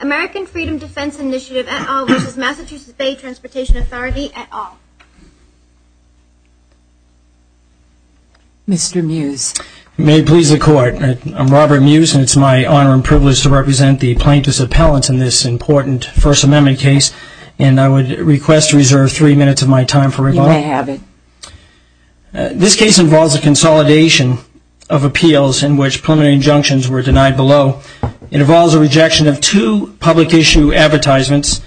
American Freedom Defense Initiative, et al. v. Massachusetts Bay Transportation Authority, et al. Mr. Mews. May it please the Court. I'm Robert Mews, and it's my honor and privilege to represent the plaintiffs' appellants in this important First Amendment case, and I would request to reserve three minutes of my time for rebuttal. You may have it. This case involves a consolidation of appeals in which preliminary injunctions were denied below. It involves a rejection of two public issue advertisements,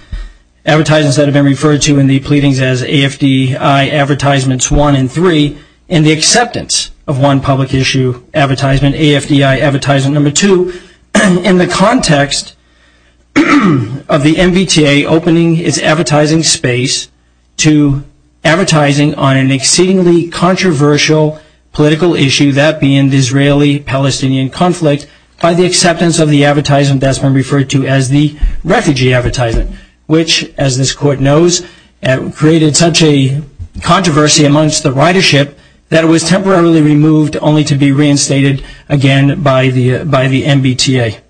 advertisements that have been referred to in the pleadings as AFDI advertisements one and three, and the acceptance of one public issue advertisement, AFDI advertisement number two, in the context of the MBTA opening its advertising space to advertising on an exceedingly controversial political issue, that being the Israeli-Palestinian conflict, by the acceptance of the advertisement that's been referred to as the refugee advertisement, which, as this Court knows, created such a controversy amongst the ridership that it was temporarily removed only to be reinstated again by the MBTA.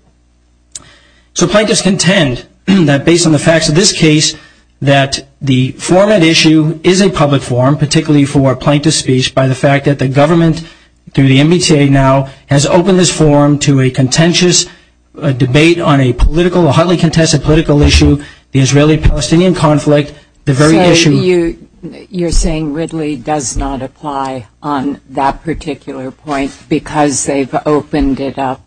So plaintiffs contend that, based on the facts of this case, that the format issue is a public forum, particularly for plaintiff's speech, by the fact that the government, through the MBTA now, has opened this forum to a contentious debate on a political, a highly contested political issue, the Israeli-Palestinian conflict, the very issue You're saying Ridley does not apply on that particular point because they've opened it up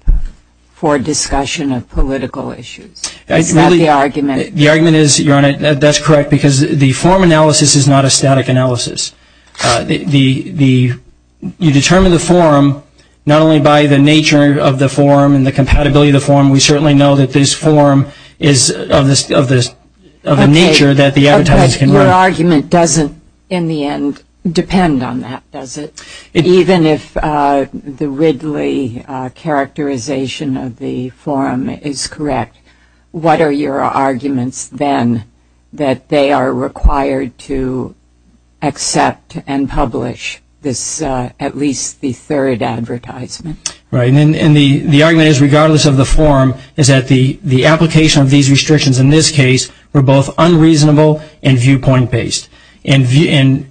for discussion of political issues. Is that the argument? The argument is, Your Honor, that's correct, because the forum analysis is not a static analysis. You determine the forum not only by the nature of the forum and the compatibility of the forum. We certainly know that this forum is of the nature that the advertisements can run. Your argument doesn't, in the end, depend on that, does it? Even if the Ridley characterization of the forum is correct, what are your arguments then that they are required to accept and publish this, at least the third advertisement? Right, and the argument is, regardless of the forum, is that the application of these restrictions in this case were both unreasonable and viewpoint-based. And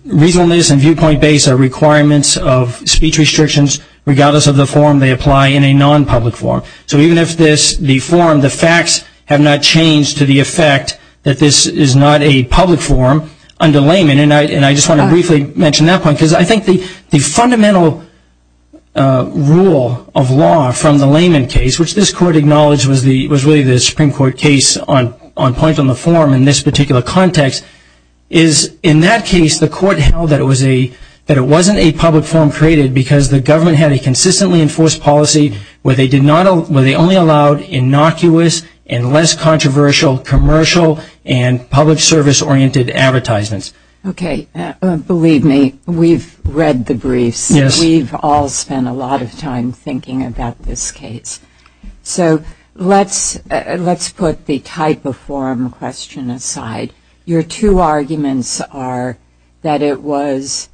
reasonableness and viewpoint-based are requirements of speech restrictions. Regardless of the forum, they apply in a non-public forum. So even if this, the forum, the facts have not changed to the effect that this is not a public forum under layman. And I just want to briefly mention that point because I think the fundamental rule of law from the layman case, which this court acknowledged was really the Supreme Court case on point on the forum in this particular context, is in that case the court held that it wasn't a public forum created because the government had a consistently enforced policy where they only allowed innocuous and less controversial commercial and public service-oriented advertisements. Okay, believe me, we've read the briefs. Yes. We've all spent a lot of time thinking about this case. So let's put the type of forum question aside. Your two arguments are that it was,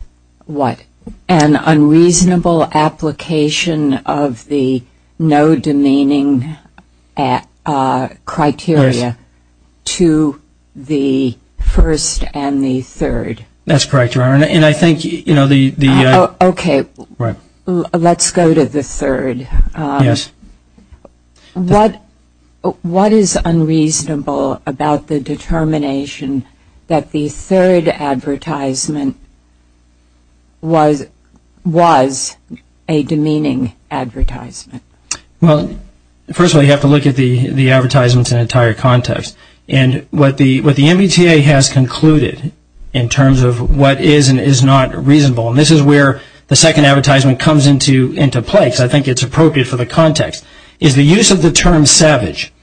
what, an unreasonable application of the no demeaning criteria to the first and the third. That's correct, Your Honor. And I think, you know, the... Okay. Right. Let's go to the third. Yes. What is unreasonable about the determination that the third advertisement was a demeaning advertisement? Well, first of all, you have to look at the advertisements in entire context. And what the MBTA has concluded in terms of what is and is not reasonable, and this is where the second advertisement comes into play because I think it's appropriate for the context, is the use of the term savage.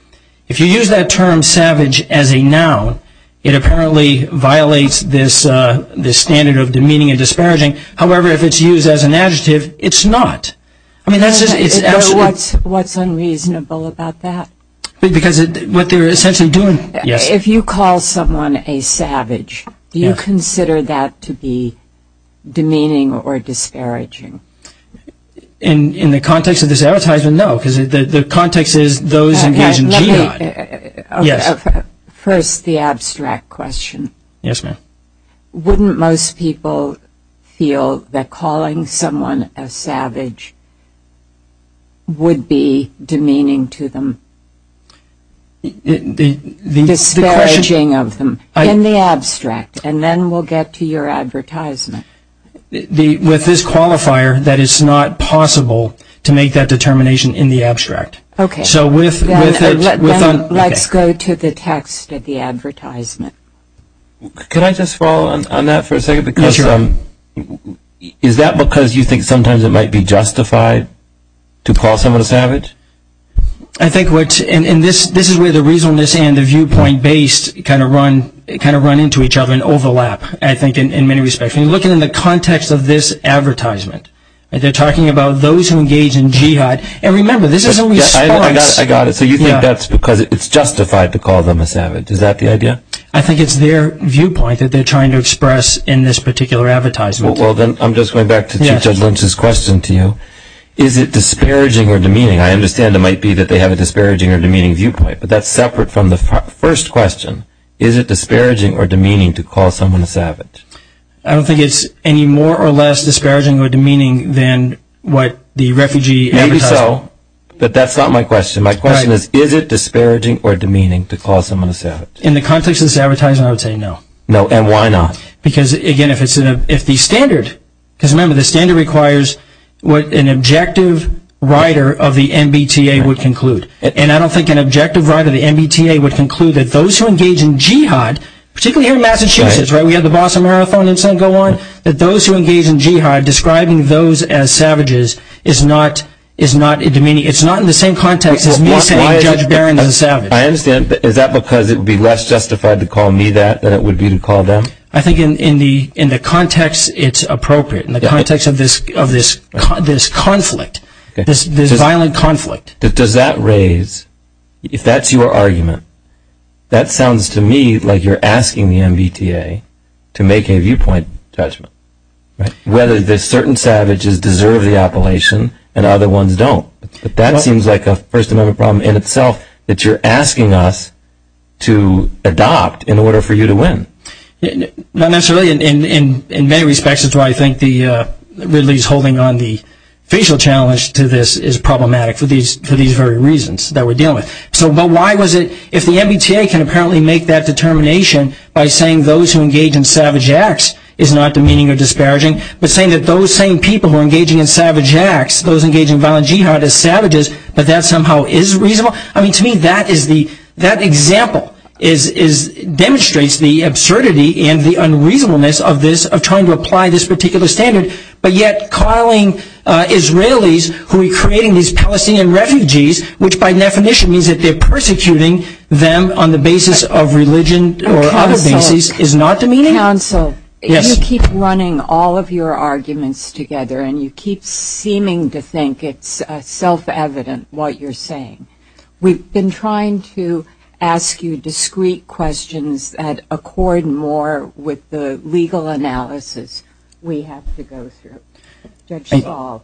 If you use that term savage as a noun, it apparently violates this standard of demeaning and disparaging. However, if it's used as an adjective, it's not. I mean, that's just... What's unreasonable about that? Because what they're essentially doing... Yes. If you call someone a savage, do you consider that to be demeaning or disparaging? In the context of this advertisement, no, because the context is those engaged in jihad. Let me... Yes. First, the abstract question. Yes, ma'am. Wouldn't most people feel that calling someone a savage would be demeaning to them? Disparaging of them in the abstract, and then we'll get to your advertisement. With this qualifier, that is not possible to make that determination in the abstract. Okay. So with it... Let's go to the text of the advertisement. Can I just follow on that for a second? Yes, sure. I think what's... And this is where the reasonableness and the viewpoint-based kind of run into each other and overlap, I think, in many respects. And looking in the context of this advertisement, they're talking about those who engage in jihad. And remember, this is a response... I got it. So you think that's because it's justified to call them a savage. Is that the idea? I think it's their viewpoint that they're trying to express in this particular advertisement. Well, then, I'm just going back to Chief Judge Lynch's question to you. Is it disparaging or demeaning? I understand it might be that they have a disparaging or demeaning viewpoint, but that's separate from the first question. Is it disparaging or demeaning to call someone a savage? I don't think it's any more or less disparaging or demeaning than what the refugee advertiser... Maybe so, but that's not my question. My question is, is it disparaging or demeaning to call someone a savage? In the context of this advertisement, I would say no. No, and why not? Because, again, if the standard... Because, remember, the standard requires what an objective rider of the MBTA would conclude. And I don't think an objective rider of the MBTA would conclude that those who engage in jihad, particularly here in Massachusetts where we have the Boston Marathon and so on, that those who engage in jihad, describing those as savages, is not demeaning. It's not in the same context as me saying Judge Barron is a savage. I understand, but is that because it would be less justified to call me that than it would be to call them? I think in the context, it's appropriate. In the context of this conflict, this violent conflict. Does that raise... If that's your argument, that sounds to me like you're asking the MBTA to make a viewpoint judgment. Whether certain savages deserve the appellation and other ones don't. That seems like a First Amendment problem in itself that you're asking us to adopt in order for you to win. Not necessarily. In many respects, it's why I think Ridley's holding on the facial challenge to this is problematic for these very reasons that we're dealing with. But why was it... If the MBTA can apparently make that determination by saying those who engage in savage acts is not demeaning or disparaging, but saying that those same people who are engaging in savage acts, those engaging in violent jihad as savages, but that somehow is reasonable. To me, that example demonstrates the absurdity and the unreasonableness of this, of trying to apply this particular standard, but yet calling Israelis who are creating these Palestinian refugees, which by definition means that they're persecuting them on the basis of religion or other bases, is not demeaning? Counsel, if you keep running all of your arguments together and you keep seeming to think it's self-evident what you're saying, we've been trying to ask you discrete questions that accord more with the legal analysis we have to go through. Judge Saul.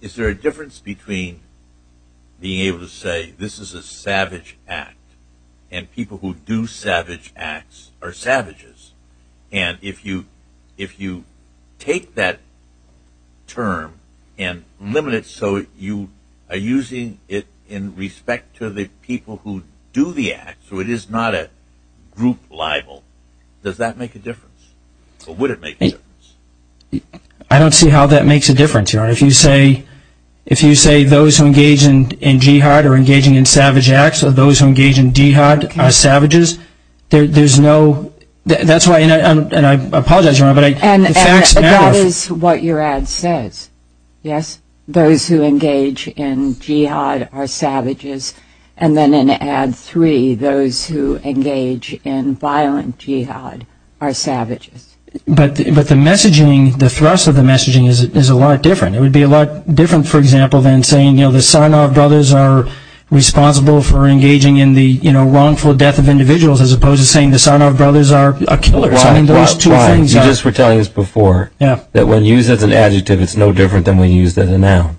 Is there a difference between being able to say this is a savage act and people who do savage acts are savages? And if you take that term and limit it so you are using it in respect to the people who do the act, so it is not a group libel, does that make a difference? Or would it make a difference? I don't see how that makes a difference, Your Honor. If you say those who engage in jihad or engaging in savage acts or those who engage in jihad are savages, there's no, that's why, and I apologize, Your Honor, but the facts matter. And that is what your ad says, yes? Those who engage in jihad are savages. And then in ad three, those who engage in violent jihad are savages. But the messaging, the thrust of the messaging is a lot different. It would be a lot different, for example, than saying, you know, the Sarnoff brothers are responsible for engaging in the, you know, wrongful death of individuals as opposed to saying the Sarnoff brothers are killers. I mean, those two things are. Ron, you just were telling us before that when used as an adjective, it's no different than when used as a noun.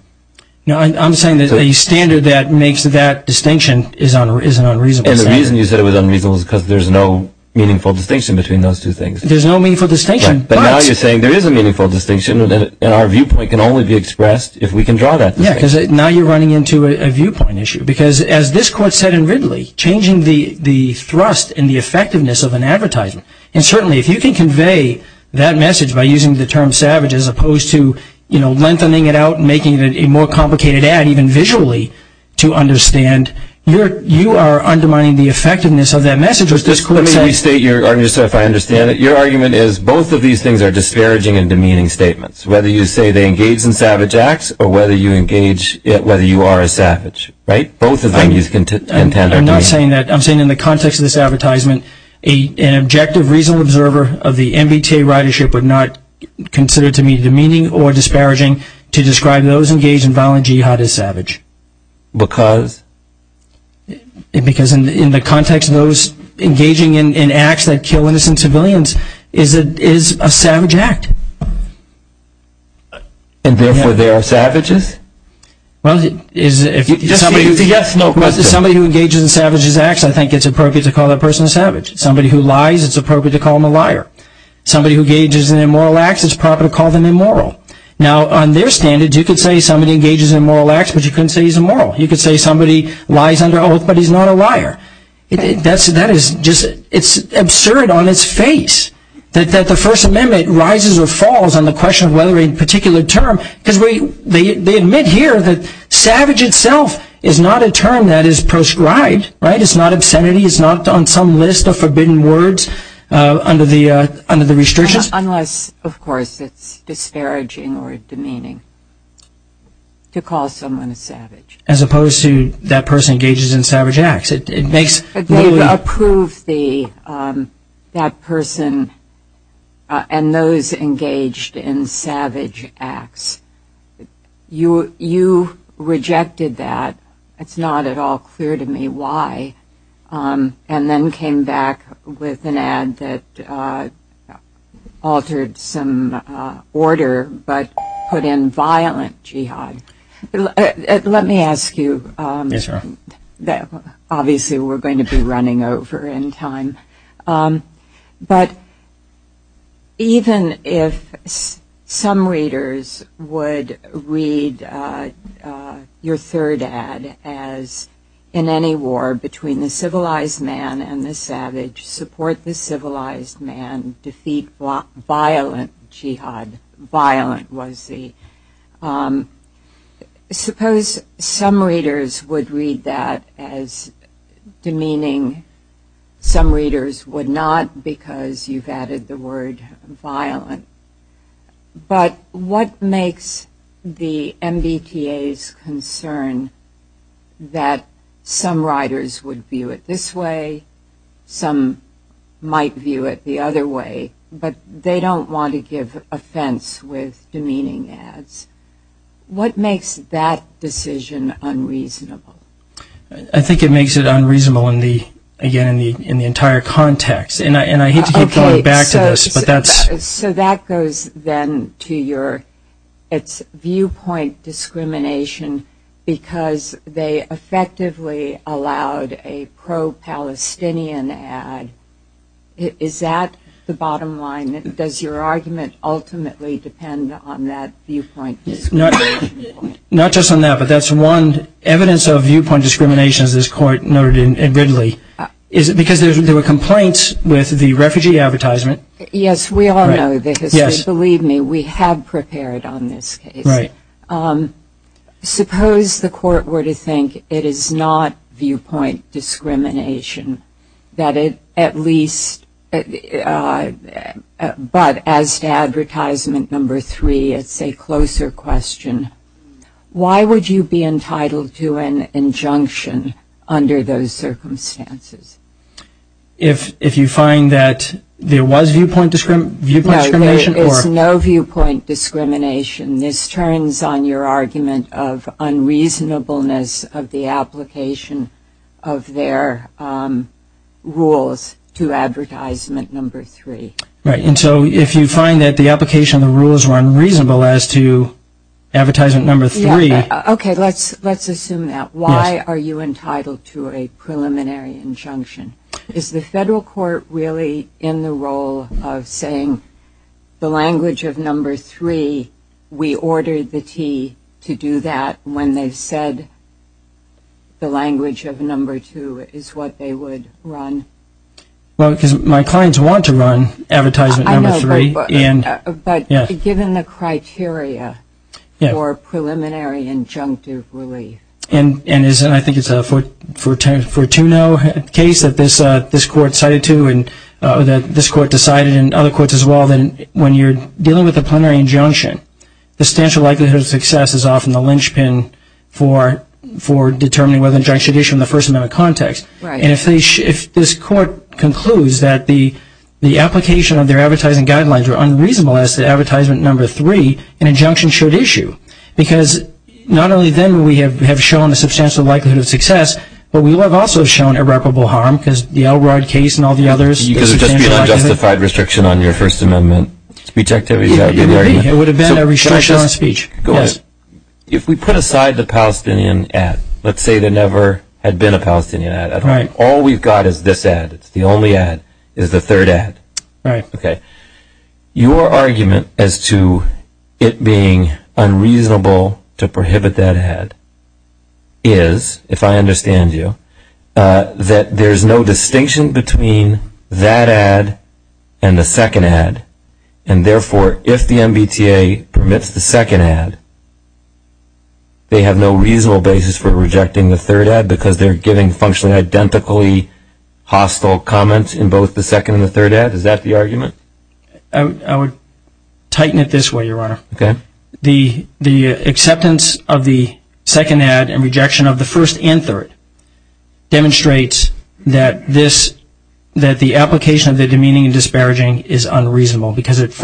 No, I'm saying that a standard that makes that distinction is an unreasonable standard. And the reason you said it was unreasonable is because there's no meaningful distinction between those two things. There's no meaningful distinction. But now you're saying there is a meaningful distinction, and our viewpoint can only be expressed if we can draw that distinction. Yeah, because now you're running into a viewpoint issue. Because as this court said in Ridley, changing the thrust and the effectiveness of an advertisement, and certainly if you can convey that message by using the term savage as opposed to, you know, lengthening it out and making it a more complicated ad even visually to understand, you are undermining the effectiveness of that message. Let me restate your argument, sir, if I understand it. Your argument is both of these things are disparaging and demeaning statements, whether you say they engage in savage acts or whether you engage whether you are a savage, right? Both of these things are intended to be. I'm not saying that. I'm saying in the context of this advertisement, an objective reasonable observer of the MBTA ridership would not consider it to be demeaning or disparaging to describe those engaged in violent jihad as savage. Because? Because in the context of those engaging in acts that kill innocent civilians, it is a savage act. And therefore they are savages? Well, somebody who engages in savage acts, I think it's appropriate to call that person a savage. Somebody who lies, it's appropriate to call them a liar. Somebody who engages in immoral acts, it's appropriate to call them immoral. Now, on their standards, you could say somebody engages in immoral acts, but you couldn't say he's immoral. You could say somebody lies under oath, but he's not a liar. It's absurd on its face that the First Amendment rises or falls on the question of whether a particular term, because they admit here that savage itself is not a term that is prescribed, right? It's not obscenity. It's not on some list of forbidden words under the restrictions. Unless, of course, it's disparaging or demeaning to call someone a savage. As opposed to that person engages in savage acts. But they approve that person and those engaged in savage acts. You rejected that. It's not at all clear to me why. And then came back with an ad that altered some order, but put in violent jihad. Yes, ma'am. Obviously, we're going to be running over in time. But even if some readers would read your third ad as, in any war between the civilized man and the savage, support the civilized man, defeat violent jihad. Suppose some readers would read that as demeaning. Some readers would not because you've added the word violent. But what makes the MBTA's concern that some writers would view it this way, some might view it the other way, but they don't want to give offense with demeaning ads. What makes that decision unreasonable? I think it makes it unreasonable, again, in the entire context. And I hate to keep going back to this, but that's... So that goes then to your viewpoint discrimination because they effectively allowed a pro-Palestinian ad. Is that the bottom line? Does your argument ultimately depend on that viewpoint discrimination? Not just on that, but that's one evidence of viewpoint discrimination, as this Court noted in Ridley. Is it because there were complaints with the refugee advertisement? Yes, we all know the history. Right. Suppose the Court were to think it is not viewpoint discrimination, that it at least... But as to advertisement number three, it's a closer question. Why would you be entitled to an injunction under those circumstances? If you find that there was viewpoint discrimination? No, there is no viewpoint discrimination. This turns on your argument of unreasonableness of the application of their rules to advertisement number three. Right, and so if you find that the application of the rules were unreasonable as to advertisement number three... Okay, let's assume that. Why are you entitled to a preliminary injunction? Is the federal court really in the role of saying the language of number three, we ordered the T to do that when they said the language of number two is what they would run? Well, because my clients want to run advertisement number three. I know, but given the criteria for preliminary injunctive relief... And I think it's a Fortuno case that this court decided to, and this court decided, and other courts as well, that when you're dealing with a preliminary injunction, the substantial likelihood of success is often the linchpin for determining whether an injunction should issue in the First Amendment context. And if this court concludes that the application of their advertising guidelines were unreasonable as to advertisement number three, an injunction should issue. Because not only then have we shown a substantial likelihood of success, but we have also shown irreparable harm because the Elrod case and all the others... Because it would just be an unjustified restriction on your First Amendment speech activity. It would have been a restriction on speech. Go ahead. If we put aside the Palestinian ad, let's say there never had been a Palestinian ad. All we've got is this ad. It's the only ad. It's the third ad. Right. Okay. Your argument as to it being unreasonable to prohibit that ad is, if I understand you, that there's no distinction between that ad and the second ad. And therefore, if the MBTA permits the second ad, they have no reasonable basis for rejecting the third ad because they're giving functionally identically hostile comments in both the second and the third ad? Is that the argument? I would tighten it this way, Your Honor. Okay. The acceptance of the second ad and rejection of the first and third demonstrates that the application of the demeaning and disparaging is unreasonable because it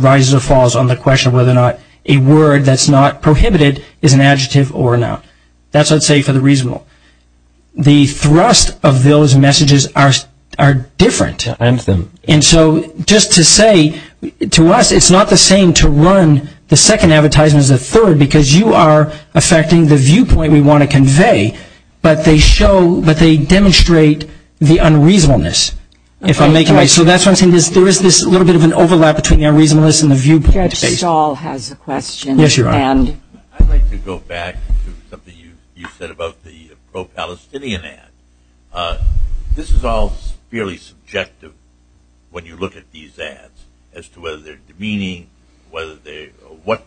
rises or falls on the question of whether or not a word that's not prohibited is an adjective or not. That's what I'd say for the reasonable. The thrust of those messages are different. I understand. And so just to say to us it's not the same to run the second advertisement as the third because you are affecting the viewpoint we want to convey, but they demonstrate the unreasonableness. So that's what I'm saying. There is this little bit of an overlap between the unreasonableness and the viewpoint. Judge Stahl has a question. Yes, Your Honor. I'd like to go back to something you said about the pro-Palestinian ad. This is all fairly subjective when you look at these ads as to whether they're demeaning, what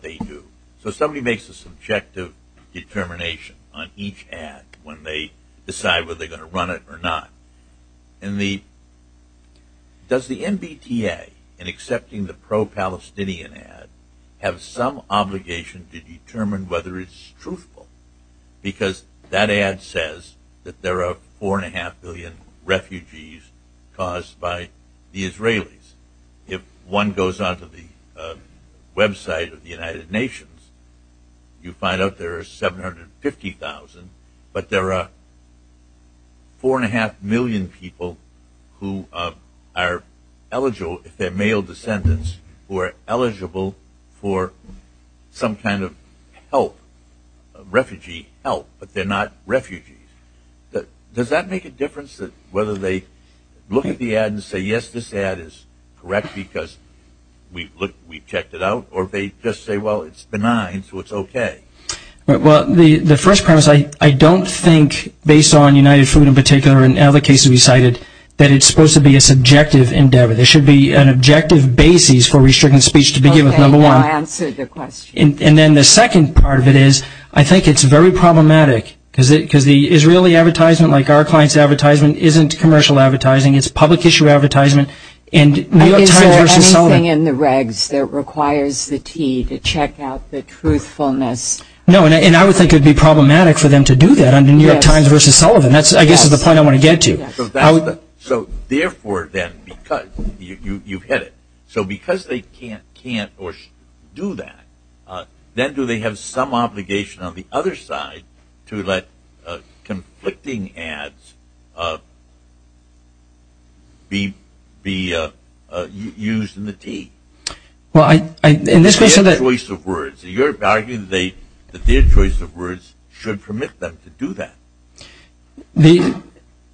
they do. So somebody makes a subjective determination on each ad when they decide whether they're going to run it or not. Does the MBTA in accepting the pro-Palestinian ad have some obligation to determine whether it's truthful because that ad says that there are 4.5 million refugees caused by the Israelis. If one goes onto the website of the United Nations, you find out there are 750,000, but there are 4.5 million people who are eligible if they're male descendants who are eligible for some kind of help, refugee help, but they're not refugees. Does that make a difference whether they look at the ad and say, yes, this ad is correct because we've checked it out, or they just say, well, it's benign, so it's okay? Well, the first premise, I don't think, based on United Food in particular and other cases we cited, that it's supposed to be a subjective endeavor. There should be an objective basis for restricted speech to begin with, number one. Okay, now answer the question. And then the second part of it is I think it's very problematic because the Israeli advertisement, like our client's advertisement, isn't commercial advertising. It's public issue advertisement, and New York Times versus Sullivan. Is there anything in the regs that requires the T to check out the truthfulness? No, and I would think it would be problematic for them to do that under New York Times versus Sullivan. I guess that's the point I want to get to. So, therefore, then, because you've hit it, so because they can't or do that, then do they have some obligation on the other side to let conflicting ads be used in the T? Well, in this case the choice of words. You're arguing that their choice of words should permit them to do that.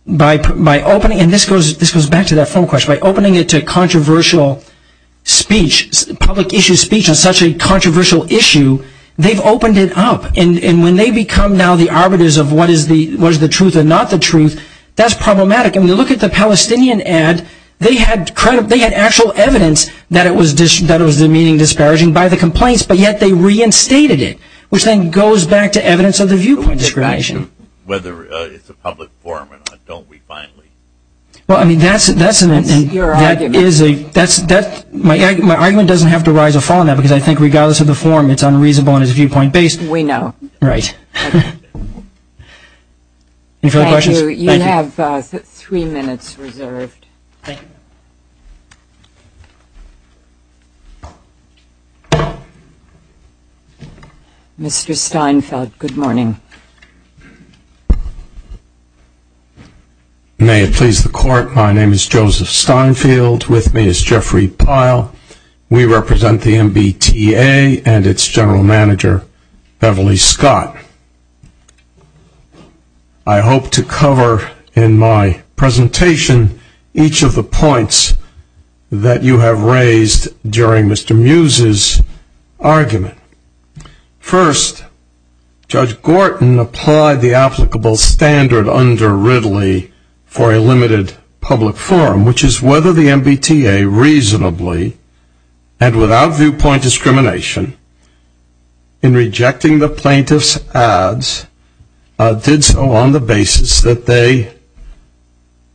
By opening, and this goes back to that form question, by opening it to controversial speech, public issue speech on such a controversial issue, they've opened it up. And when they become now the arbiters of what is the truth and not the truth, that's problematic. And when you look at the Palestinian ad, they had actual evidence that it was demeaning, disparaging by the complaints, but yet they reinstated it, which then goes back to evidence of the viewpoint discrimination. Whether it's a public forum or not, don't we finally? Well, I mean, that's an issue. That's your argument. My argument doesn't have to rise or fall on that, because I think regardless of the forum it's unreasonable and it's viewpoint based. We know. Right. Any further questions? Thank you. You have three minutes reserved. Thank you. Mr. Steinfeld, good morning. May it please the court, my name is Joseph Steinfeld. With me is Jeffrey Pyle. We represent the MBTA and its general manager, Beverly Scott. I hope to cover in my presentation each of the points that you have raised during Mr. Muses' argument. First, Judge Gorton applied the applicable standard under Ridley for a limited public forum, which is whether the MBTA reasonably and without viewpoint discrimination in rejecting the plaintiff's ads did so on the basis that they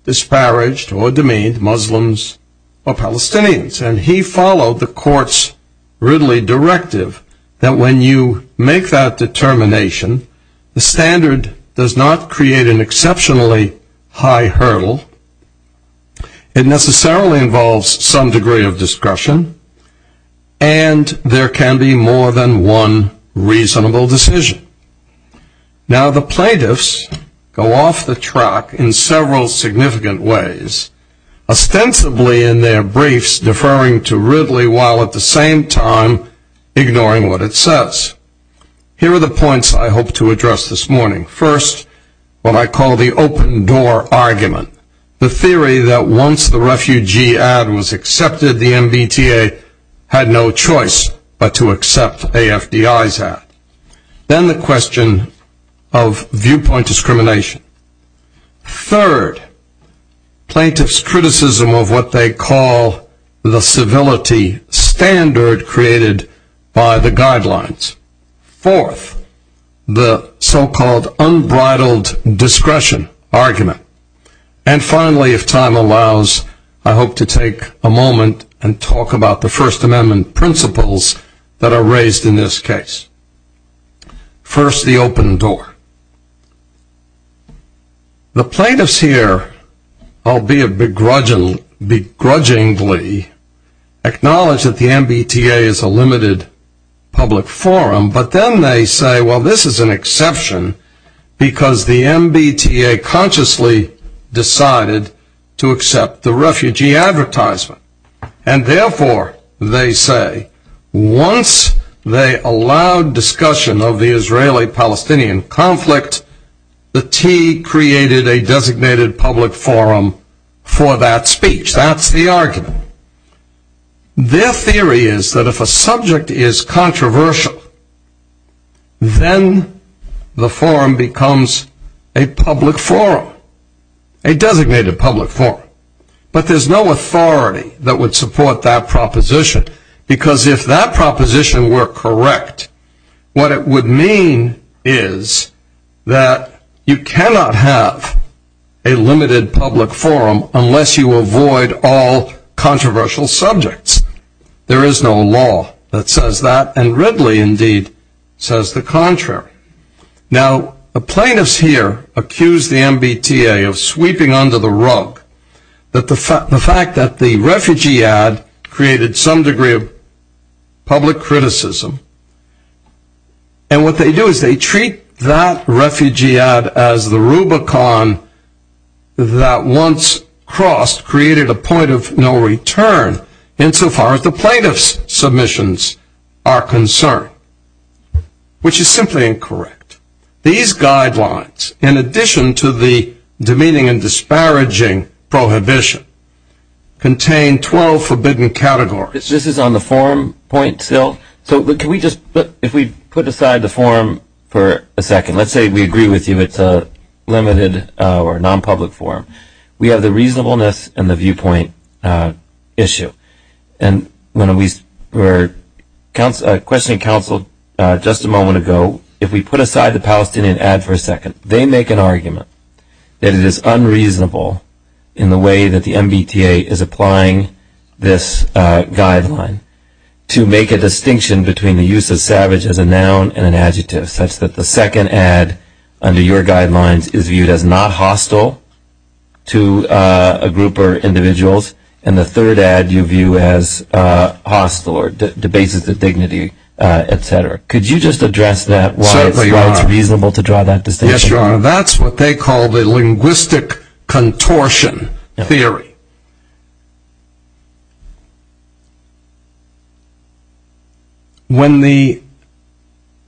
disparaged or demeaned Muslims or Palestinians. And he followed the court's Ridley directive that when you make that determination, the standard does not create an exceptionally high hurdle. It necessarily involves some degree of discretion, and there can be more than one reasonable decision. Now, the plaintiffs go off the track in several significant ways. Ostensibly in their briefs deferring to Ridley while at the same time ignoring what it says. Here are the points I hope to address this morning. First, what I call the open door argument. The theory that once the refugee ad was accepted, the MBTA had no choice but to accept AFDI's ad. Then the question of viewpoint discrimination. Third, plaintiffs' criticism of what they call the civility standard created by the guidelines. Fourth, the so-called unbridled discretion argument. And finally, if time allows, I hope to take a moment and talk about the First Amendment principles that are raised in this case. First, the open door. The plaintiffs here, albeit begrudgingly, acknowledge that the MBTA is a limited public forum, but then they say, well, this is an exception because the MBTA consciously decided to accept the refugee advertisement. And therefore, they say, once they allowed discussion of the Israeli-Palestinian conflict, the T created a designated public forum for that speech. That's the argument. Their theory is that if a subject is controversial, then the forum becomes a public forum, a designated public forum. But there's no authority that would support that proposition, because if that proposition were correct, what it would mean is that you cannot have a limited public forum unless you avoid all controversial subjects. There is no law that says that, and Ridley, indeed, says the contrary. Now, the plaintiffs here accuse the MBTA of sweeping under the rug the fact that the refugee ad created some degree of public criticism. And what they do is they treat that refugee ad as the Rubicon that once crossed created a point of no return, insofar as the plaintiff's submissions are concerned, which is simply incorrect. These guidelines, in addition to the demeaning and disparaging prohibition, contain 12 forbidden categories. This is on the forum point still. So if we put aside the forum for a second, let's say we agree with you it's a limited or non-public forum. We have the reasonableness and the viewpoint issue. And when we were questioning counsel just a moment ago, if we put aside the Palestinian ad for a second, they make an argument that it is unreasonable in the way that the MBTA is applying this guideline to make a distinction between the use of savage as a noun and an adjective, such that the second ad under your guidelines is viewed as not hostile to a group or individuals, and the third ad you view as hostile or debases the dignity, et cetera. Could you just address that, why it's reasonable to draw that distinction? Yes, you are. That's what they call the linguistic contortion theory. When the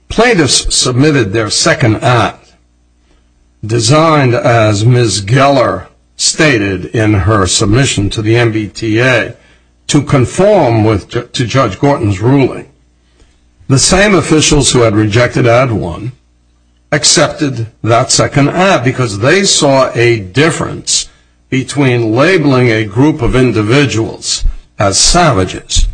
plaintiffs submitted their second ad, designed as Ms. Geller stated in her submission to the MBTA, to conform to Judge Gorton's ruling, the same officials who had rejected ad one accepted that second ad because they saw a difference between labeling a group of individuals as savages,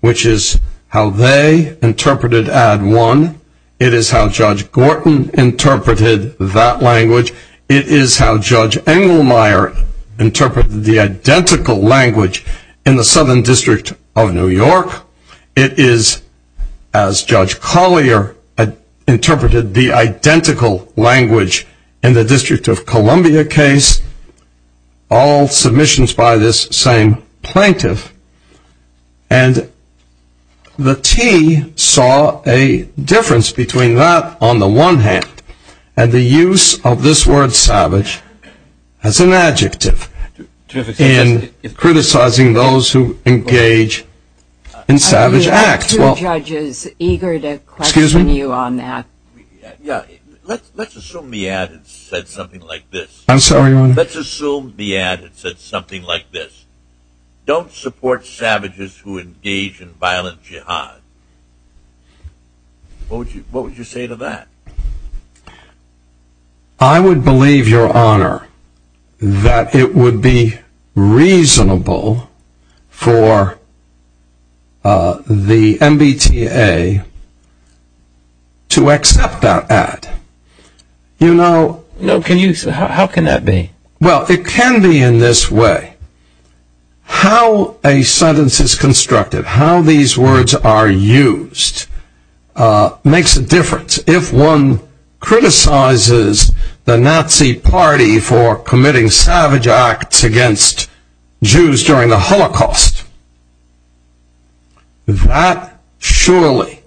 which is how they interpreted ad one. It is how Judge Gorton interpreted that language. It is how Judge Engelmeyer interpreted the identical language in the Southern District of New York. It is as Judge Collier interpreted the identical language in the District of Columbia case, all submissions by this same plaintiff. And the T saw a difference between that on the one hand and the use of this word savage as an adjective in criticizing those who engage in savage acts. Are you two judges eager to question you on that? Let's assume the ad said something like this. I'm sorry, Your Honor. Let's assume the ad said something like this. Don't support savages who engage in violent jihad. What would you say to that? I would believe, Your Honor, that it would be reasonable for the MBTA to accept that ad. How can that be? Well, it can be in this way. How a sentence is constructed, how these words are used makes a difference. If one criticizes the Nazi Party for committing savage acts against Jews during the Holocaust, that surely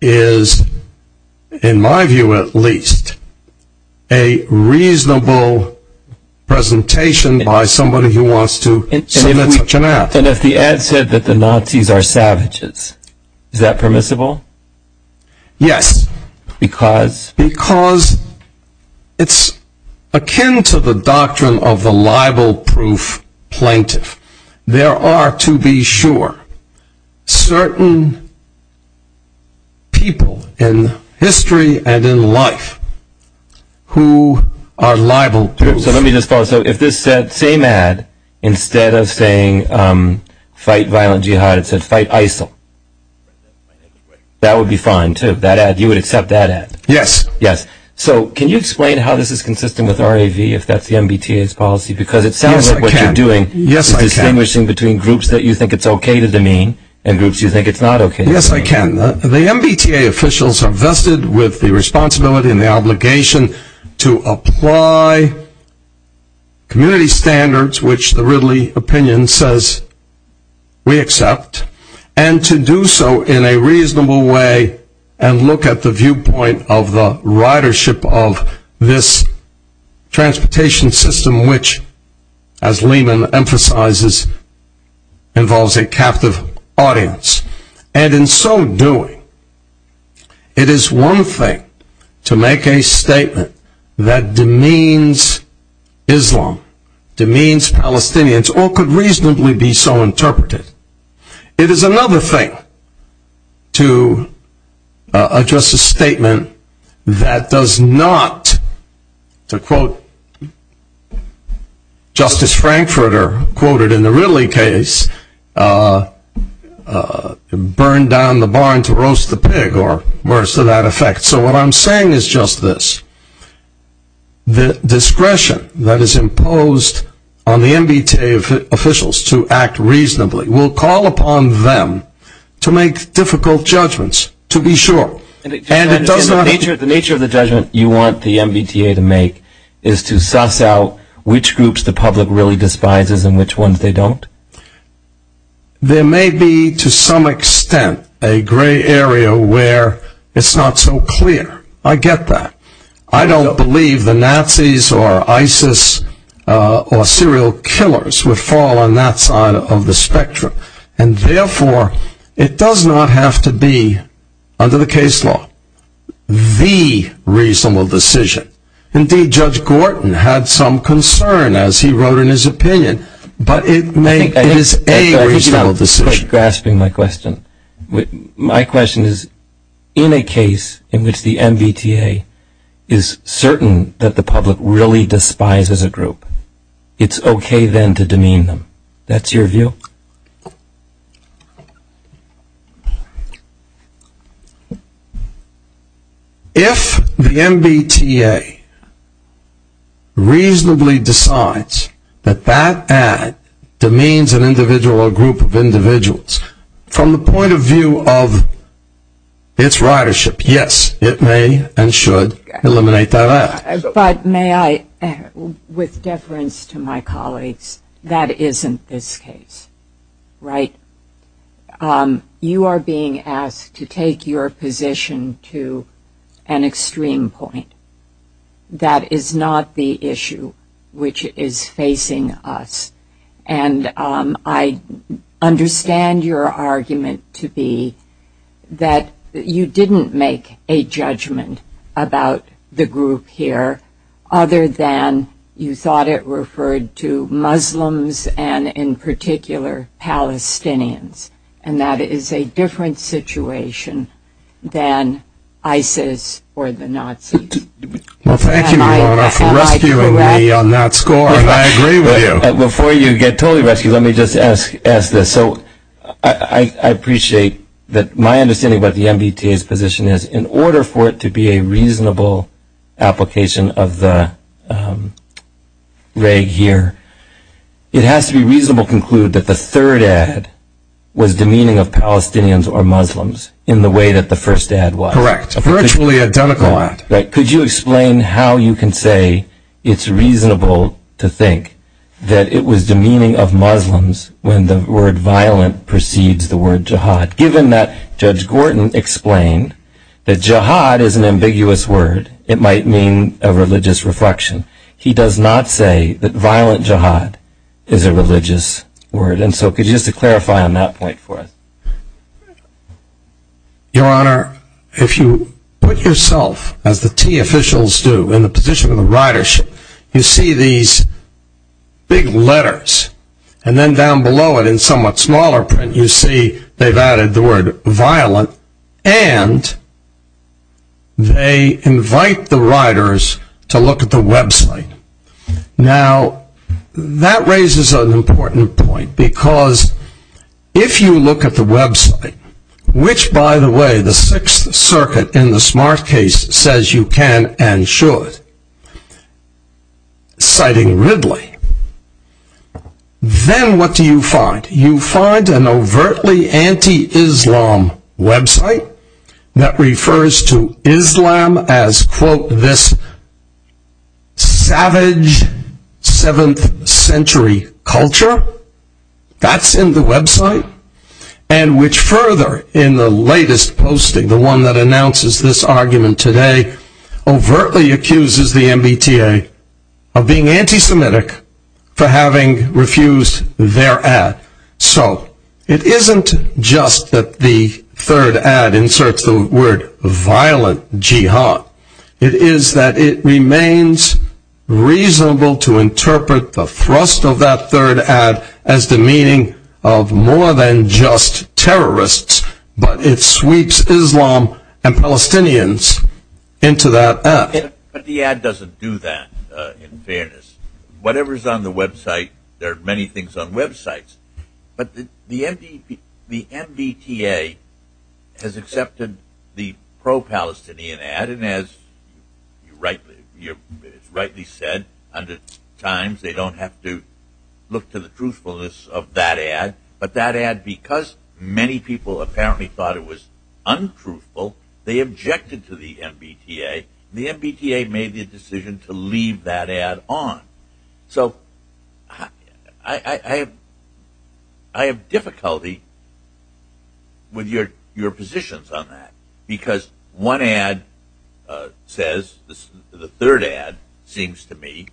is, in my view at least, a reasonable presentation by somebody who wants to submit such an ad. Captain, if the ad said that the Nazis are savages, is that permissible? Yes. Because? Because it's akin to the doctrine of the libel-proof plaintiff. There are, to be sure, certain people in history and in life who are libel-proof. So let me just follow. So if this same ad, instead of saying fight violent jihad, it said fight ISIL, that would be fine, too? You would accept that ad? Yes. Yes. So can you explain how this is consistent with RAV, if that's the MBTA's policy? Because it sounds like what you're doing is distinguishing between groups that you think it's okay to demean and groups you think it's not okay to demean. Yes, I can. The MBTA officials are vested with the responsibility and the obligation to apply community standards, which the Ridley opinion says we accept, and to do so in a reasonable way and look at the viewpoint of the ridership of this transportation system, which, as Lehman emphasizes, involves a captive audience. And in so doing, it is one thing to make a statement that demeans Islam, demeans Palestinians, or could reasonably be so interpreted. It is another thing to address a statement that does not, to quote Justice Frankfurter, quoted in the Ridley case, burn down the barn to roast the pig, or worse to that effect. So what I'm saying is just this. The discretion that is imposed on the MBTA officials to act reasonably will call upon them to make difficult judgments, to be sure, and it does not The nature of the judgment you want the MBTA to make is to suss out which groups the public really despises and which ones they don't? There may be, to some extent, a gray area where it's not so clear. I get that. I don't believe the Nazis or ISIS or serial killers would fall on that side of the spectrum, and therefore it does not have to be, under the case law, the reasonable decision. Indeed, Judge Gorton had some concern, as he wrote in his opinion, but it is a reasonable decision. I think you're quite grasping my question. My question is, in a case in which the MBTA is certain that the public really despises a group, it's okay then to demean them. That's your view? If the MBTA reasonably decides that that ad demeans an individual or group of individuals, from the point of view of its ridership, yes, it may and should eliminate that ad. But may I, with deference to my colleagues, that isn't this case, right? You are being asked to take your position to an extreme point. That is not the issue which is facing us. And I understand your argument to be that you didn't make a judgment about the group here, other than you thought it referred to Muslims and, in particular, Palestinians, and that is a different situation than ISIS or the Nazis. Well, thank you, Your Honor, for rescuing me on that score, and I agree with you. Before you get totally rescued, let me just ask this. So I appreciate that my understanding about the MBTA's position is, in order for it to be a reasonable application of the reg here, it has to be reasonable to conclude that the third ad was demeaning of Palestinians or Muslims, in the way that the first ad was. Correct. Virtually identical ad. Could you explain how you can say it's reasonable to think that it was demeaning of Muslims when the word violent precedes the word jihad, given that Judge Gorton explained that jihad is an ambiguous word. It might mean a religious reflection. He does not say that violent jihad is a religious word. And so could you just clarify on that point for us? Your Honor, if you put yourself, as the T officials do, in the position of the ridership, you see these big letters, and then down below it, in somewhat smaller print, you see they've added the word violent, and they invite the riders to look at the website. Now, that raises an important point, because if you look at the website, which, by the way, the Sixth Circuit, in the smart case, says you can and should, citing Ridley, then what do you find? You find an overtly anti-Islam website that refers to Islam as, quote, this savage seventh century culture. That's in the website, and which further, in the latest posting, the one that announces this argument today, overtly accuses the MBTA of being anti-Semitic for having refused their ad. So it isn't just that the third ad inserts the word violent jihad. It is that it remains reasonable to interpret the thrust of that third ad as the meaning of more than just terrorists, but it sweeps Islam and Palestinians into that ad. But the ad doesn't do that, in fairness. Whatever's on the website, there are many things on websites. But the MBTA has accepted the pro-Palestinian ad, and as rightly said hundreds of times, they don't have to look to the truthfulness of that ad, but that ad, because many people apparently thought it was untruthful, they objected to the MBTA. The MBTA made the decision to leave that ad on. So I have difficulty with your positions on that, because one ad says, the third ad seems to me,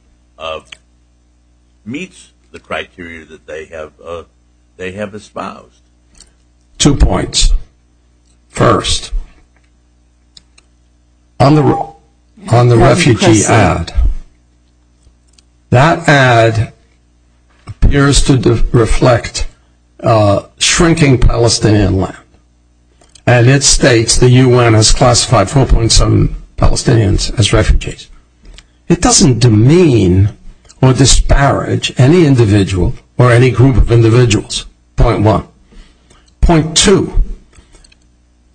meets the criteria that they have espoused. Two points. First, on the refugee ad, that ad appears to reflect shrinking Palestinian land, and it states the UN has classified 4.7 Palestinians as refugees. It doesn't demean or disparage any individual or any group of individuals. Point one. Point two.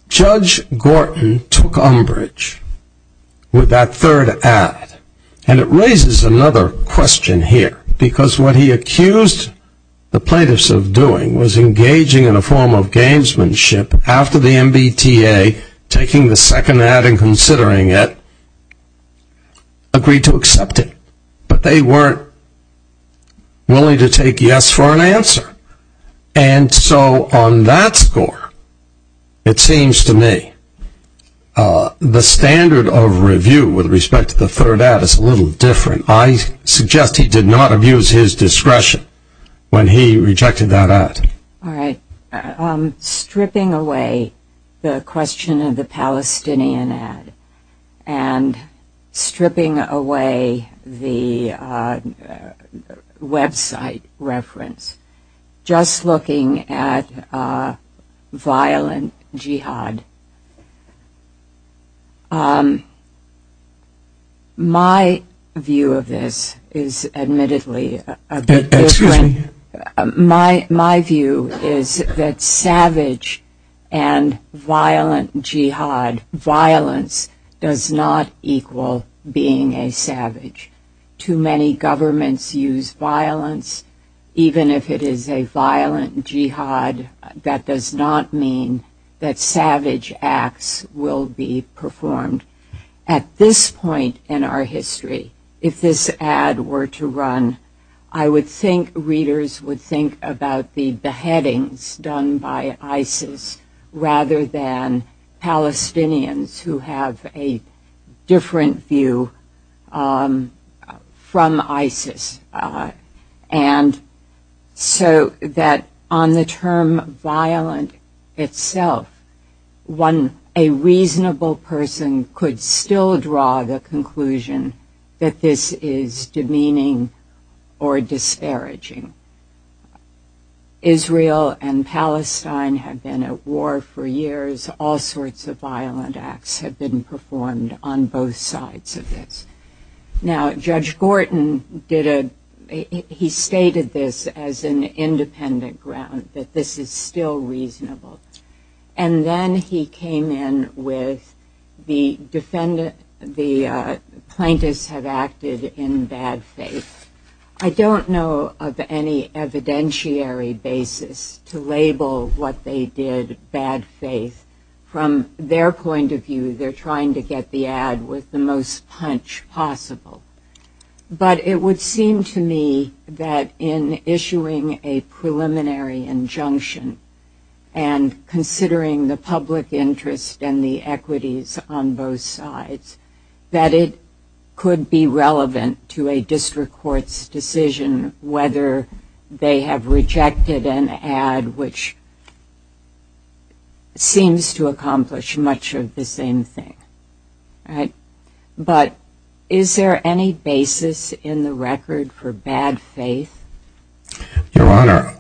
Judge Gorton took umbrage with that third ad, and it raises another question here, because what he accused the plaintiffs of doing was engaging in a form of gamesmanship after the MBTA, taking the second ad and considering it, agreed to accept it. But they weren't willing to take yes for an answer. And so on that score, it seems to me, the standard of review with respect to the third ad is a little different. I suggest he did not abuse his discretion when he rejected that ad. All right. Stripping away the question of the Palestinian ad, and stripping away the website reference, just looking at violent jihad, my view of this is admittedly a bit different. My view is that savage and violent jihad, violence, does not equal being a savage. Too many governments use violence. Even if it is a violent jihad, that does not mean that savage acts will be performed. At this point in our history, if this ad were to run, I would think readers would think about the beheadings done by ISIS rather than Palestinians who have a different view from ISIS. And so that on the term violent itself, a reasonable person could still draw the conclusion that this is demeaning or disparaging. Israel and Palestine have been at war for years. All sorts of violent acts have been performed on both sides of this. Now, Judge Gorton, he stated this as an independent ground, that this is still reasonable. And then he came in with the plaintiffs have acted in bad faith. I don't know of any evidentiary basis to label what they did bad faith. From their point of view, they're trying to get the ad with the most punch possible. But it would seem to me that in issuing a preliminary injunction and considering the public interest and the equities on both sides, that it could be relevant to a district court's decision whether they have rejected an ad which seems to accomplish much of the same thing. But is there any basis in the record for bad faith? Your Honor,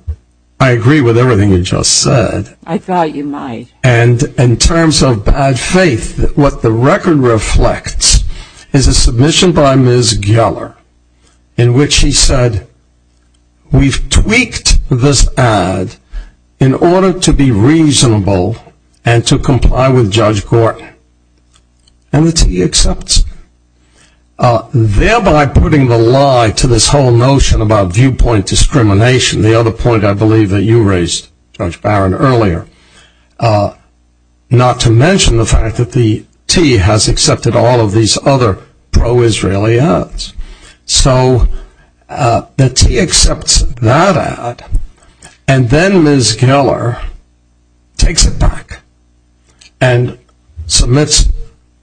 I agree with everything you just said. I thought you might. And in terms of bad faith, what the record reflects is a submission by Ms. Geller in which she said, we've tweaked this ad in order to be reasonable and to comply with Judge Gorton. And the T accepts. Thereby putting the lie to this whole notion about viewpoint discrimination, the other point I believe that you raised, Judge Barron, earlier. Not to mention the fact that the T has accepted all of these other pro-Israeli ads. So the T accepts that ad, and then Ms. Geller takes it back and submits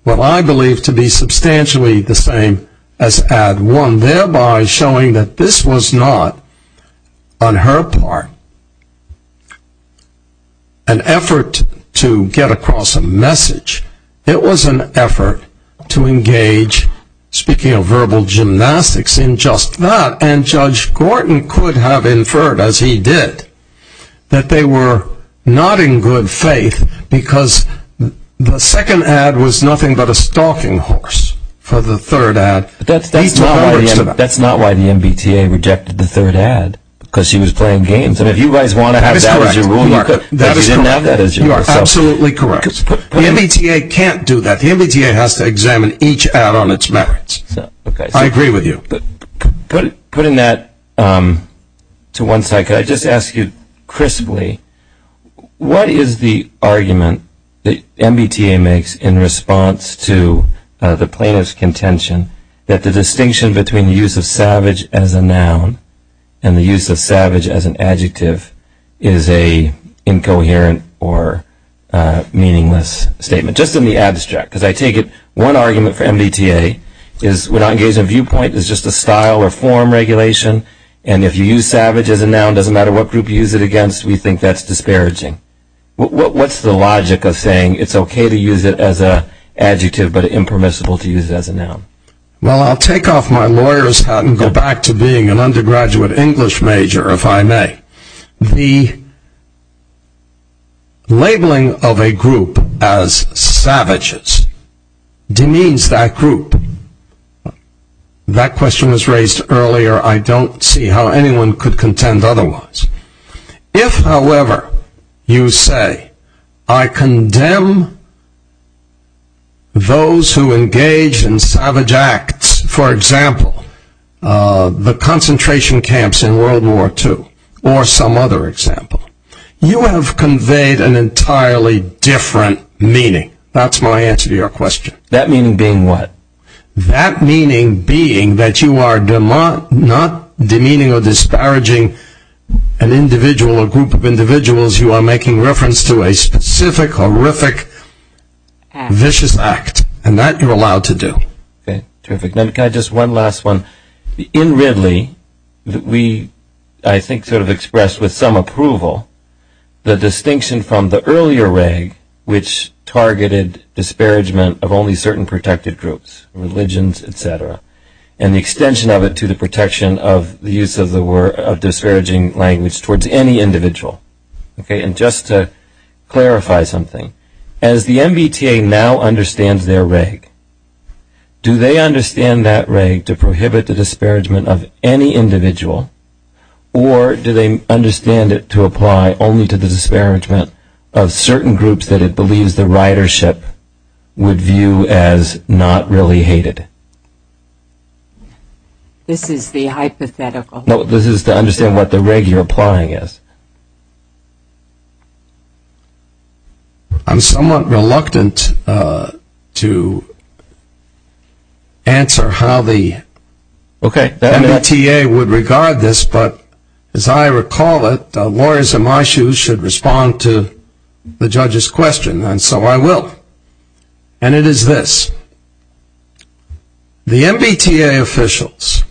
what I believe to be substantially the same as ad one, thereby showing that this was not on her part. It was an effort to get across a message. It was an effort to engage, speaking of verbal gymnastics, in just that. And Judge Gorton could have inferred, as he did, that they were not in good faith because the second ad was nothing but a stalking horse for the third ad. That's not why the MBTA rejected the third ad, because she was playing games. That is correct. You are absolutely correct. The MBTA can't do that. The MBTA has to examine each ad on its merits. I agree with you. Putting that to one side, could I just ask you crisply, what is the argument that MBTA makes in response to the plaintiff's contention that the distinction between the use of savage as a noun and the use of savage as an adjective is an incoherent or meaningless statement? Just in the abstract, because I take it one argument for MBTA is we're not engaged in viewpoint, it's just a style or form regulation, and if you use savage as a noun, it doesn't matter what group you use it against, we think that's disparaging. What's the logic of saying it's okay to use it as an adjective but impermissible to use it as a noun? Well, I'll take off my lawyer's hat and go back to being an undergraduate English major, if I may. The labeling of a group as savages demeans that group. That question was raised earlier. I don't see how anyone could contend otherwise. If, however, you say, I condemn those who engage in savage acts, for example, the concentration camps in World War II, or some other example, you have conveyed an entirely different meaning. That's my answer to your question. That meaning being what? That meaning being that you are not demeaning or disparaging an individual or group of individuals, you are making reference to a specific, horrific, vicious act, and that you're allowed to do. Okay, terrific. Can I just one last one? In Ridley, we, I think, sort of expressed with some approval the distinction from the earlier reg which targeted disparagement of only certain protected groups, religions, et cetera, and the extension of it to the protection of the use of disparaging language towards any individual. Okay, and just to clarify something, as the MBTA now understands their reg, do they understand that reg to prohibit the disparagement of any individual, or do they understand it to apply only to the disparagement of certain groups that it believes the ridership would view as not really hated? This is the hypothetical. No, this is to understand what the reg you're applying is. I'm somewhat reluctant to answer how the MBTA would regard this, but as I recall it, lawyers in my shoes should respond to the judge's question, and so I will. And it is this. The MBTA officials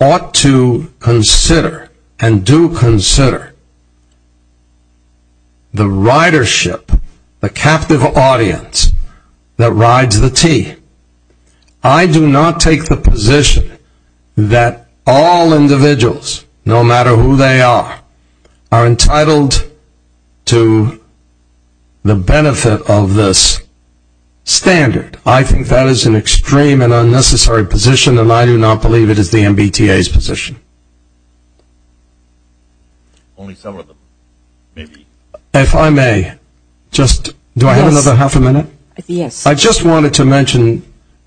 ought to consider and do consider the ridership, the captive audience that rides the T. I do not take the position that all individuals, no matter who they are, are entitled to the benefit of this standard. I think that is an extreme and unnecessary position, and I do not believe it is the MBTA's position. If I may, just, do I have another half a minute? Yes. I just wanted to mention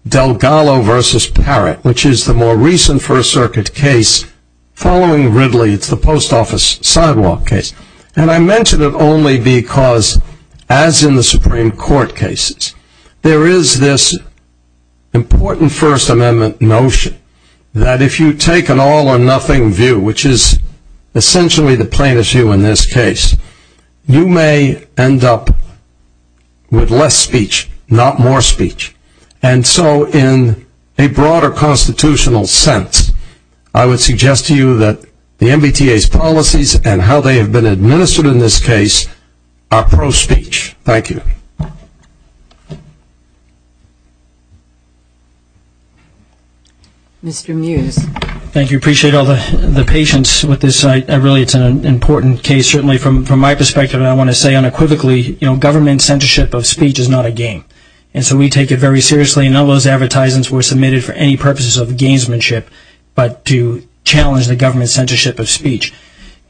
Delgado versus Parrott, which is the more recent First Circuit case following Ridley. It's the post office sidewalk case. And I mention it only because, as in the Supreme Court cases, there is this important First Amendment notion that if you take an all or nothing view, which is essentially the plaintiff's view in this case, you may end up with less speech, not more speech. And so in a broader constitutional sense, I would suggest to you that the MBTA's policies and how they have been administered in this case are pro-speech. Thank you. Mr. Muse. Thank you. I appreciate all the patience with this. I realize it's an important case. Certainly from my perspective, I want to say unequivocally, government censorship of speech is not a game. And so we take it very seriously. None of those advertisements were submitted for any purposes of gamesmanship, but to challenge the government's censorship of speech.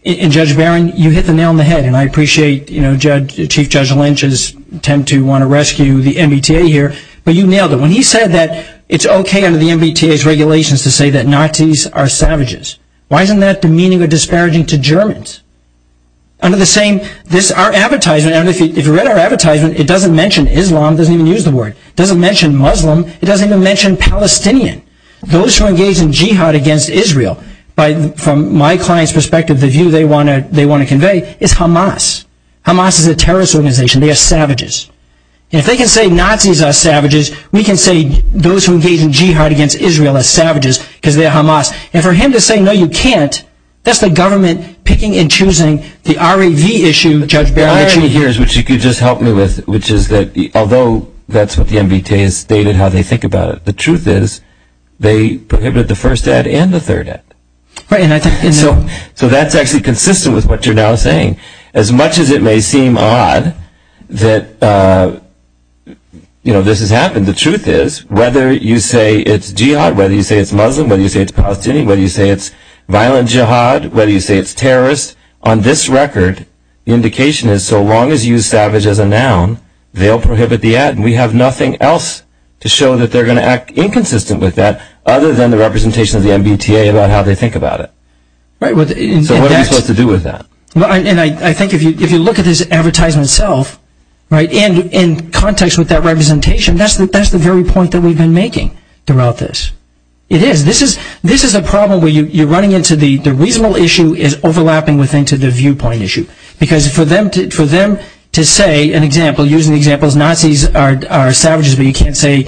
And Judge Barron, you hit the nail on the head, and I appreciate Chief Judge Lynch's attempt to want to rescue the MBTA here, but you nailed it. When he said that it's okay under the MBTA's regulations to say that Nazis are savages, why isn't that demeaning or disparaging to Germans? Our advertisement, if you read our advertisement, it doesn't mention Islam. It doesn't even use the word. It doesn't mention Muslim. It doesn't even mention Palestinian. Those who engage in jihad against Israel, from my client's perspective, the view they want to convey is Hamas. Hamas is a terrorist organization. They are savages. And if they can say Nazis are savages, we can say those who engage in jihad against Israel are savages because they are Hamas. And for him to say, no, you can't, that's the government picking and choosing the R.A.V. issue, Judge Barron. The R.A.V. here, which you could just help me with, which is that although that's what the MBTA has stated how they think about it, the truth is they prohibited the first ad and the third ad. So that's actually consistent with what you're now saying. As much as it may seem odd that this has happened, the truth is whether you say it's jihad, whether you say it's Muslim, whether you say it's Palestinian, whether you say it's violent jihad, whether you say it's terrorist, on this record, the indication is so long as you use savage as a noun, they'll prohibit the ad. And we have nothing else to show that they're going to act inconsistent with that other than the representation of the MBTA about how they think about it. So what are we supposed to do with that? And I think if you look at this advertisement itself, and in context with that representation, that's the very point that we've been making throughout this. It is. This is a problem where you're running into the reasonable issue is overlapping with the viewpoint issue. Because for them to say, an example, using the examples, Nazis are savages, but you can't say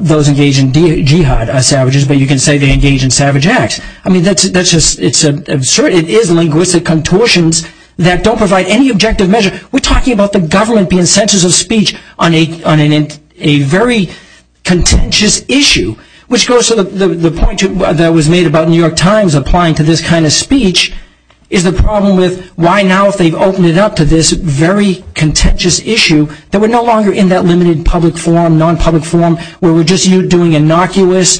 those engaged in jihad are savages, but you can say they engage in savage acts. I mean, it is linguistic contortions that don't provide any objective measure. We're talking about the government being censors of speech on a very contentious issue, which goes to the point that was made about New York Times applying to this kind of speech is the problem with why now, if they've opened it up to this very contentious issue, that we're no longer in that limited public forum, non-public forum, where we're just doing innocuous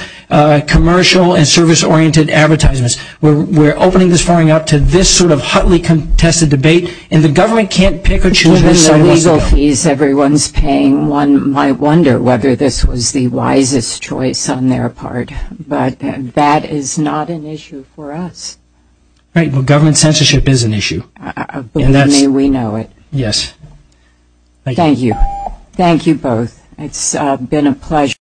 commercial and service-oriented advertisements. We're opening this forum up to this sort of hotly contested debate, and the government can't pick or choose. Given the legal fees everyone's paying, one might wonder whether this was the wisest choice on their part. But that is not an issue for us. Right. Well, government censorship is an issue. May we know it. Yes. Thank you. Thank you both. It's been a pleasure.